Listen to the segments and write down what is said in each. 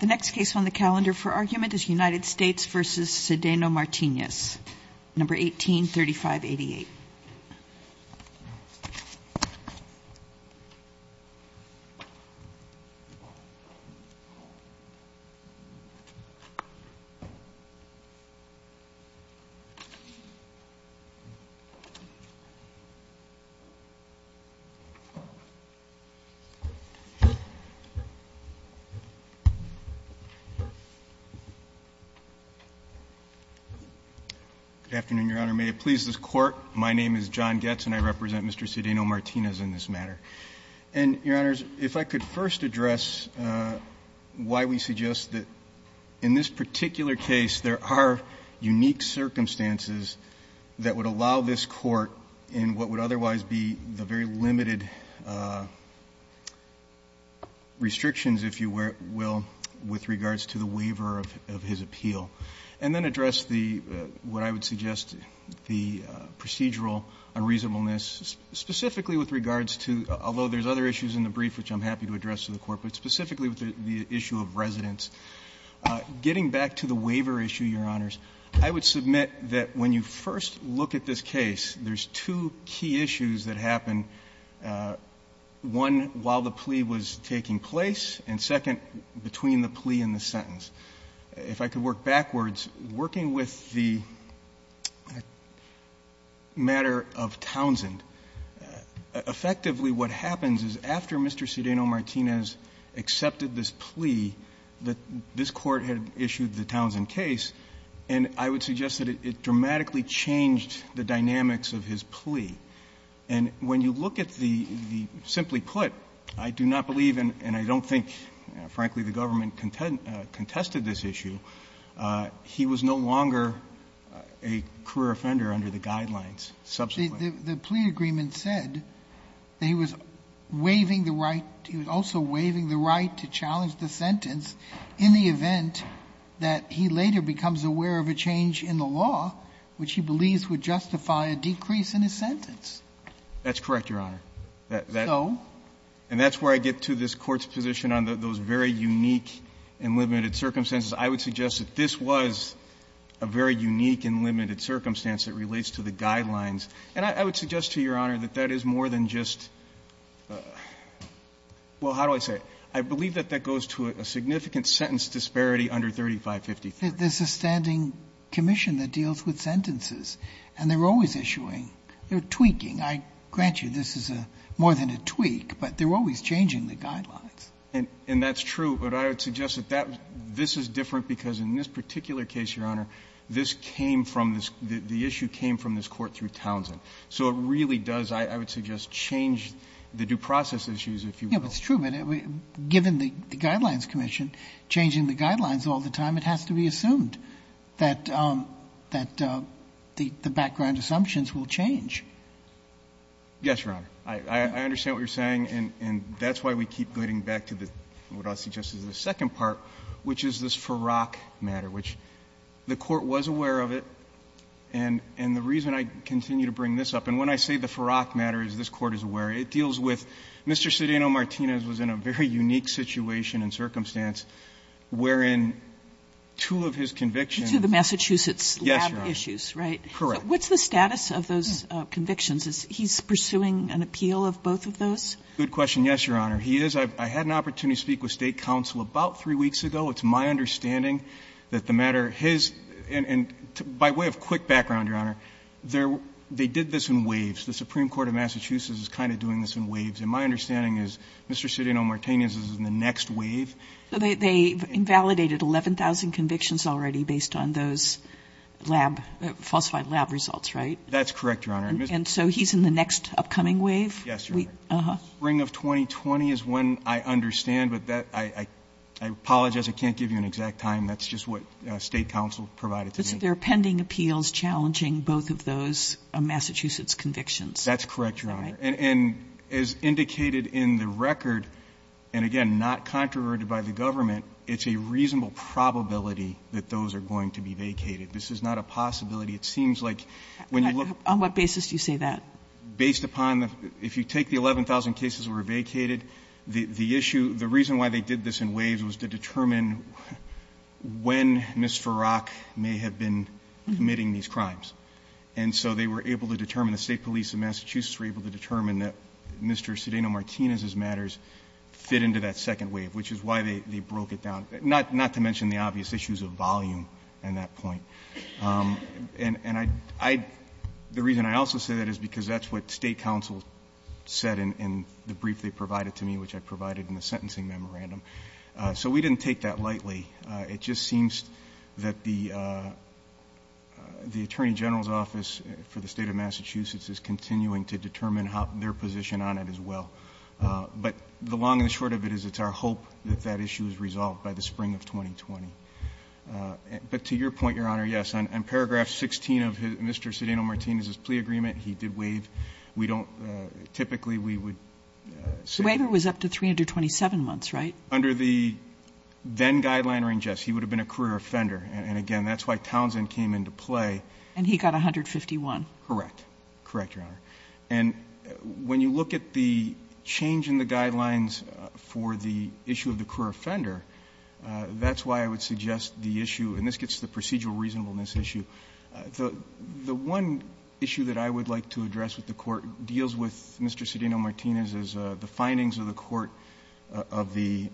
The next case on the calendar for argument is United States v. Sedano-Martinez, No. 183588. Good afternoon, Your Honor. May it please this Court, my name is John Goetz, and I represent Mr. Sedano-Martinez in this matter. And, Your Honors, if I could first address why we suggest that in this particular case there are unique circumstances that would allow this Court in what would otherwise be the very limited restrictions, if you will, with regards to the waiver of his appeal. And then address the, what I would suggest, the procedural unreasonableness specifically with regards to, although there's other issues in the brief which I'm happy to address to the Court, but specifically with the issue of residence. Getting back to the waiver issue, Your Honors, I would submit that when you first look at this case, there's two key issues that happen, one, while the plea was taking place, and second, between the plea and the sentence. If I could work backwards, working with the matter of Townsend, effectively what happens is after Mr. Sedano-Martinez accepted this plea, that this Court had issued the Townsend case, and I would suggest that it dramatically changed the dynamics of his plea. And when you look at the, simply put, I do not believe and I don't think, frankly, the government contested this issue, he was no longer a career offender under the guidelines subsequently. Sotomayor, the plea agreement said that he was waiving the right, he was also waiving the right to challenge the sentence in the event that he later becomes aware of a change in the law, which he believes would justify a decrease in his sentence. That's correct, Your Honor. So? And that's where I get to this Court's position on those very unique and limited circumstances. I would suggest that this was a very unique and limited circumstance that relates to the guidelines. And I would suggest to Your Honor that that is more than just the law. Well, how do I say it? I believe that that goes to a significant sentence disparity under 3553. There's a standing commission that deals with sentences, and they're always issuing. They're tweaking. I grant you this is more than a tweak, but they're always changing the guidelines. And that's true, but I would suggest that this is different because in this particular case, Your Honor, this came from this, the issue came from this Court through Townsend. So it really does, I would suggest, change the due process issues, if you will. Yes, it's true, but given the Guidelines Commission changing the guidelines all the time, it has to be assumed that the background assumptions will change. Yes, Your Honor. I understand what you're saying, and that's why we keep getting back to what I'll suggest is the second part, which is this Farrack matter, which the Court was aware of it, and the reason I continue to bring this up, and when I say the Farrack matter, as this Court is aware, it deals with Mr. Cedeno Martinez was in a very unique situation and circumstance wherein two of his convictions. Two of the Massachusetts lab issues, right? Correct. What's the status of those convictions? Is he pursuing an appeal of both of those? Good question, yes, Your Honor. He is. I had an opportunity to speak with State counsel about three weeks ago. It's my understanding that the matter, his, and by way of quick background, Your Honor, they're they did this in waves. The Supreme Court of Massachusetts is kind of doing this in waves, and my understanding is Mr. Cedeno Martinez is in the next wave. They've invalidated 11,000 convictions already based on those lab, falsified lab results, right? That's correct, Your Honor. And so he's in the next upcoming wave? Yes, Your Honor. The spring of 2020 is when I understand, but that, I apologize, I can't give you an exact time. That's just what State counsel provided to me. But there are pending appeals challenging both of those Massachusetts convictions? That's correct, Your Honor. And as indicated in the record, and again, not controverted by the government, it's a reasonable probability that those are going to be vacated. This is not a possibility. Some cases were vacated. The issue, the reason why they did this in waves was to determine when Ms. Farrak may have been committing these crimes. And so they were able to determine, the State police of Massachusetts were able to determine that Mr. Cedeno Martinez's matters fit into that second wave, which is why they broke it down, not to mention the obvious issues of volume and that point. And I, the reason I also say that is because that's what State counsel said in the brief they provided to me, which I provided in the sentencing memorandum. So we didn't take that lightly. It just seems that the Attorney General's office for the State of Massachusetts is continuing to determine their position on it as well. But the long and the short of it is it's our hope that that issue is resolved by the spring of 2020. But to your point, Your Honor, yes, on paragraph 16 of Mr. Cedeno Martinez's plea agreement, he did waive. We don't, typically we would say. The waiver was up to 327 months, right? Under the then-guideline range, yes. He would have been a career offender. And again, that's why Townsend came into play. And he got 151. Correct. Correct, Your Honor. And when you look at the change in the guidelines for the issue of the career offender, that's why I would suggest the issue, and this gets to the procedural reasonableness issue. The one issue that I would like to address with the Court deals with Mr. Cedeno Martinez is the findings of the Court of the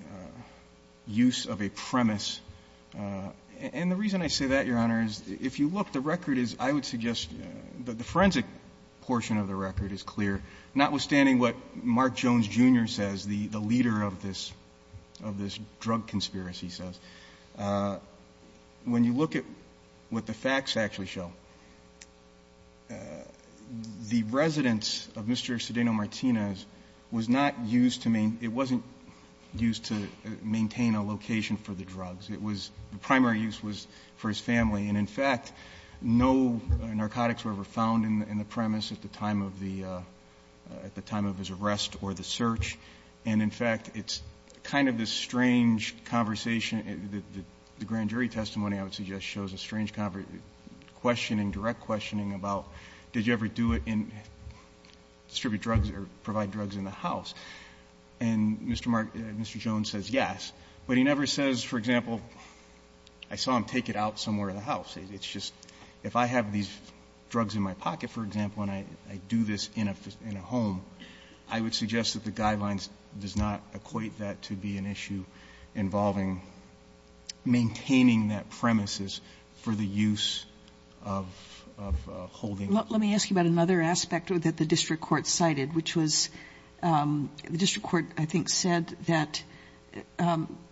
use of a premise. And the reason I say that, Your Honor, is if you look, the record is, I would suggest that the forensic portion of the record is clear, notwithstanding what Mark Jones, Jr. says, the leader of this drug conspiracy says. When you look at what the facts actually show, the residence of Mr. Cedeno Martinez was not used to main – it wasn't used to maintain a location for the drugs. It was – the primary use was for his family. And in fact, no narcotics were ever found in the premise at the time of the – at the time of his arrest or the search. And in fact, it's kind of this strange conversation. The grand jury testimony, I would suggest, shows a strange questioning, direct questioning about did you ever do it in – distribute drugs or provide drugs in the house. And Mr. Jones says yes, but he never says, for example, I saw him take it out somewhere in the house. It's just, if I have these drugs in my pocket, for example, and I do this in a home, I would suggest that the guidelines does not equate that to be an issue involving maintaining that premises for the use of holding. Let me ask you about another aspect that the district court cited, which was the district court, I think, said that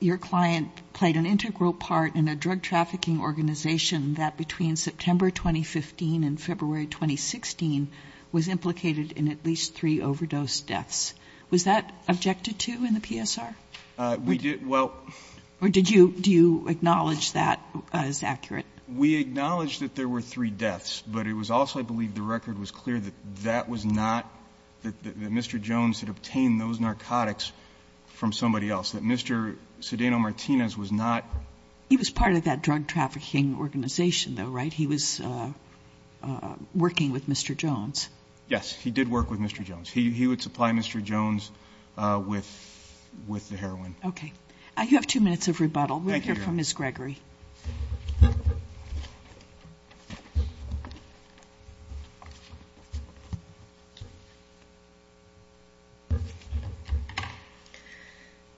your client played an integral part in a drug trafficking organization that between September 2015 and February 2016 was implicated in at least three overdose deaths. Was that objected to in the PSR? We did – well – Or did you – do you acknowledge that as accurate? We acknowledged that there were three deaths, but it was also, I believe, the record was clear that that was not – that Mr. Jones had obtained those narcotics from somebody else, that Mr. Cedeno-Martinez was not – He was part of that drug trafficking organization, though, right? He was working with Mr. Jones. Yes, he did work with Mr. Jones. He would supply Mr. Jones with the heroin. Okay. You have two minutes of rebuttal. We'll hear from Ms. Gregory.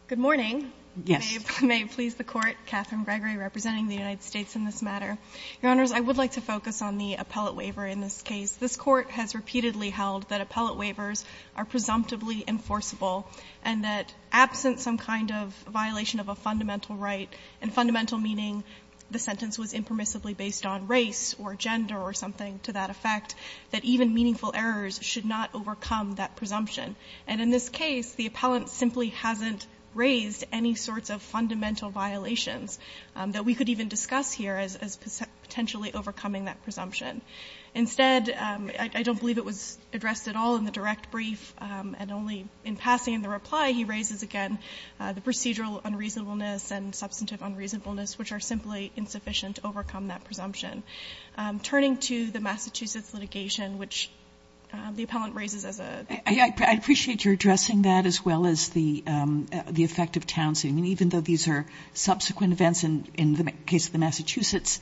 Good morning. Yes. May it please the Court, Catherine Gregory representing the United States in this matter. Your Honors, I would like to focus on the appellate waiver in this case. This Court has repeatedly held that appellate waivers are presumptively enforceable and that absent some kind of violation of a fundamental right, and fundamental meaning the sentence was impermissibly based on race or gender or something to that effect, that even meaningful errors should not overcome that presumption. And in this case, the appellant simply hasn't raised any sorts of fundamental violations that we could even discuss here as potentially overcoming that presumption. Instead, I don't believe it was addressed at all in the direct brief, and only in passing in the reply, he raises again the procedural unreasonableness and substantive unreasonableness, which are simply insufficient to overcome that presumption. Turning to the Massachusetts litigation, which the appellant raises as a — I appreciate your addressing that as well as the effect of Townsend. I mean, even though these are subsequent events in the case of the Massachusetts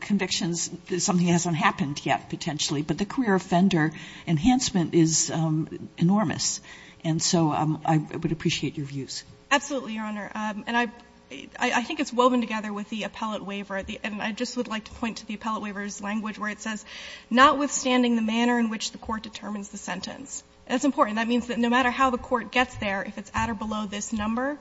convictions, something hasn't happened yet, potentially, but the career offender enhancement is enormous, and so I would appreciate your views. Absolutely, Your Honor, and I — I think it's woven together with the appellate waiver, and I just would like to point to the appellate waiver's language where it says, notwithstanding the manner in which the court determines the sentence. That's important. That means that no matter how the court gets there, if it's at or below this number,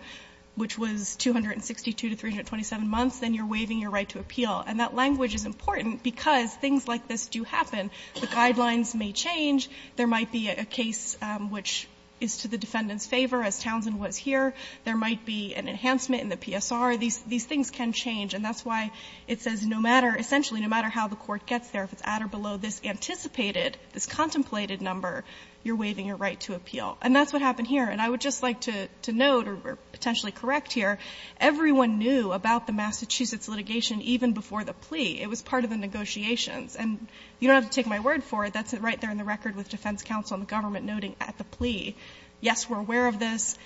which was 262 to 327 months, then you're waiving your right to appeal. And that language is important because things like this do happen. The guidelines may change. There might be a case which is to the defendant's favor, as Townsend was here. There might be an enhancement in the PSR. These things can change, and that's why it says no matter — essentially, no matter how the court gets there, if it's at or below this anticipated, this contemplated number, you're waiving your right to appeal. And that's what happened here. And I would just like to note, or potentially correct here, everyone knew about the Massachusetts litigation even before the plea. It was part of the negotiations. And you don't have to take my word for it. That's right there in the record with defense counsel and the government noting at the plea, yes, we're aware of this,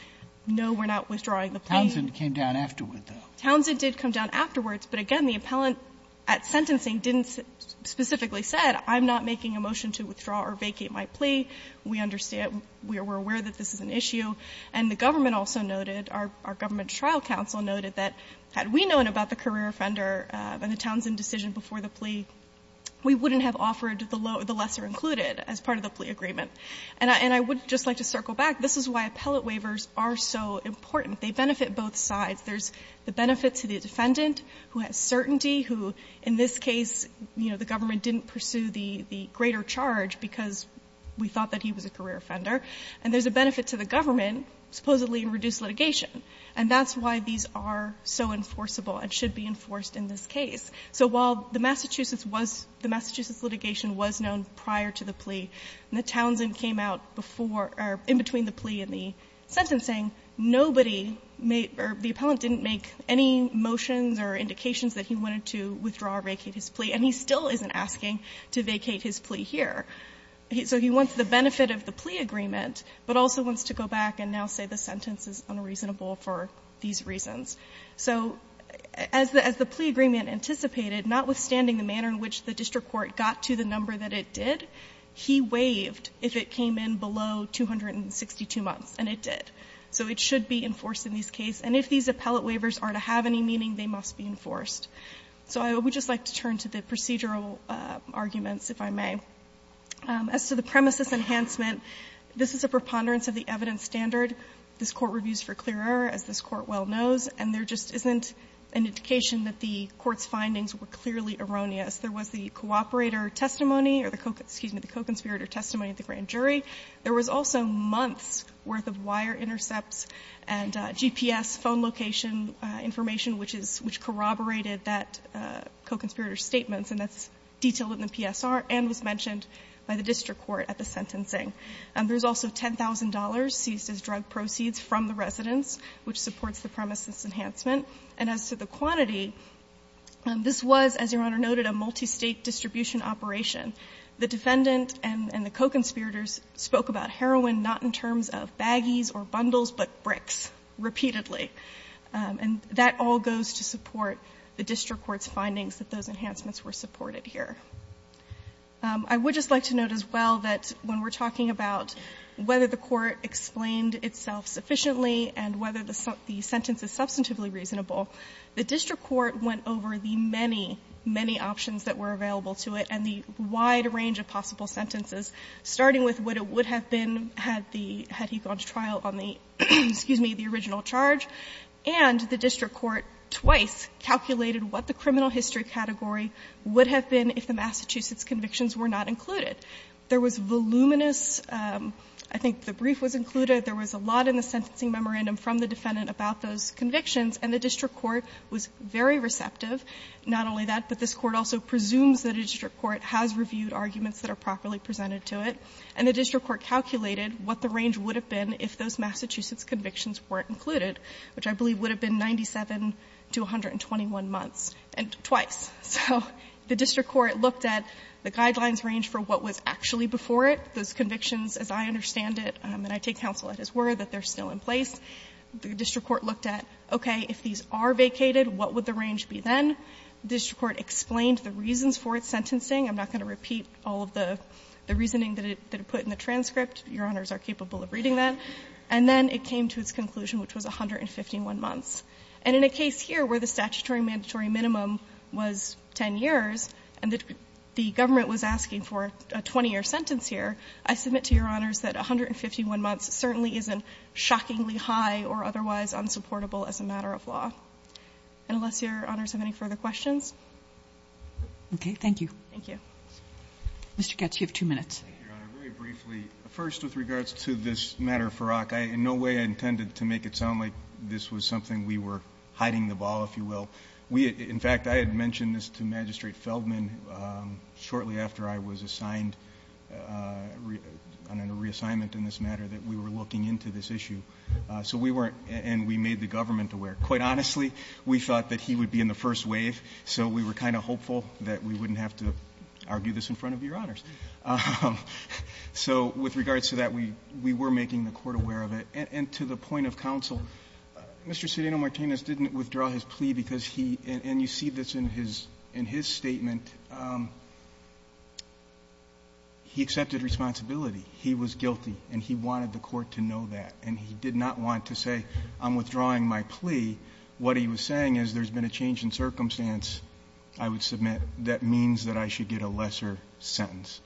no, we're not withdrawing the plea. Sotomayor, Townsend came down afterward, though. Townsend did come down afterwards, but again, the appellant at sentencing didn't specifically say, I'm not making a motion to withdraw or vacate my plea. We understand — we're aware that this is an issue. And the government also noted, our government trial counsel noted that had we known about the career offender and the Townsend decision before the plea, we wouldn't have offered the lesser included as part of the plea agreement. And I would just like to circle back. This is why appellate waivers are so important. They benefit both sides. There's the benefit to the defendant who has certainty, who in this case, you know, the government didn't pursue the greater charge because we thought that he was a career offender, and there's a benefit to the government, supposedly, in reduced litigation. And that's why these are so enforceable and should be enforced in this case. So while the Massachusetts was — the Massachusetts litigation was known prior to the plea, and the Townsend came out before — or in between the plea and the sentencing, nobody made — or the appellant didn't make any motions or indications that he wanted to withdraw or vacate his plea. And he still isn't asking to vacate his plea here. So he wants the benefit of the plea agreement, but also wants to go back and now say the sentence is unreasonable for these reasons. So as the plea agreement anticipated, notwithstanding the manner in which the district court got to the number that it did, he waived if it came in below 262 months, and it did. So it should be enforced in this case. And if these appellate waivers are to have any meaning, they must be enforced. So I would just like to turn to the procedural arguments, if I may. As to the premises enhancement, this is a preponderance of the evidence standard. This Court reviews for clear error, as this Court well knows, and there just isn't an indication that the Court's findings were clearly erroneous. There was the cooperator testimony or the co-conspirator testimony of the grand jury. There was also months' worth of wire intercepts and GPS phone location information which corroborated that co-conspirator's statements, and that's detailed in the PSR and was mentioned by the district court at the sentencing. There's also $10,000 seized as drug proceeds from the residence, which supports the premises enhancement. And as to the quantity, this was, as Your Honor noted, a multistate distribution operation. The defendant and the co-conspirators spoke about heroin not in terms of baggies or bundles, but bricks repeatedly. And that all goes to support the district court's findings that those enhancements were supported here. I would just like to note as well that when we're talking about whether the court explained itself sufficiently and whether the sentence is substantively reasonable, the district court went over the many, many options that were available to it and the wide range of possible sentences, starting with what it would have been had the ---- had he gone to trial on the, excuse me, the original charge. And the district court twice calculated what the criminal history category would have been if the Massachusetts convictions were not included. There was voluminous ---- I think the brief was included. There was a lot in the sentencing memorandum from the defendant about those convictions, and the district court was very receptive. Not only that, but this court also presumes that a district court has reviewed arguments that are properly presented to it. And the district court calculated what the range would have been if those Massachusetts convictions weren't included, which I believe would have been 97 to 121 months and twice. So the district court looked at the guidelines range for what was actually before it, those convictions, as I understand it, and I take counsel at his word, that they're still in place. The district court looked at, okay, if these are vacated, what would the range be then? The district court explained the reasons for its sentencing. I'm not going to repeat all of the reasoning that it put in the transcript. Your Honors are capable of reading that. And then it came to its conclusion, which was 151 months. And in a case here where the statutory mandatory minimum was 10 years and the government was asking for a 20-year sentence here, I submit to Your Honors that 151 months certainly isn't shockingly high or otherwise unsupportable as a matter of law. Unless Your Honors have any further questions. Robertson, Okay, thank you. Thank you. Mr. Goetz, you have two minutes. Goetz, Thank you, Your Honor. Very briefly, first with regards to this matter, Farrakh, in no way I intended to make it sound like this was something we were hiding the ball, if you will. We had — in fact, I had mentioned this to Magistrate Feldman shortly after I was assigned on a reassignment in this matter, that we were looking into this issue. So we weren't — and we made the government aware. Quite honestly, we thought that he would be in the first wave, so we were kind of hopeful that we wouldn't have to argue this in front of Your Honors. So with regards to that, we were making the Court aware of it. And to the point of counsel, Mr. Serino-Martinez didn't withdraw his plea because he — and you see this in his — in his statement. He accepted responsibility. He was guilty, and he wanted the Court to know that. And he did not want to say, I'm withdrawing my plea. What he was saying is there's been a change in circumstance. I would submit that means that I should get a lesser sentence.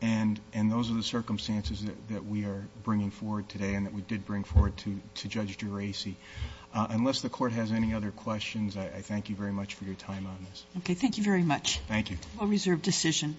And those are the circumstances that we are bringing forward today and that we did bring forward to Judge Geraci. Unless the Court has any other questions, I thank you very much for your time on this. Okay. Thank you very much. Thank you. Well-reserved decision.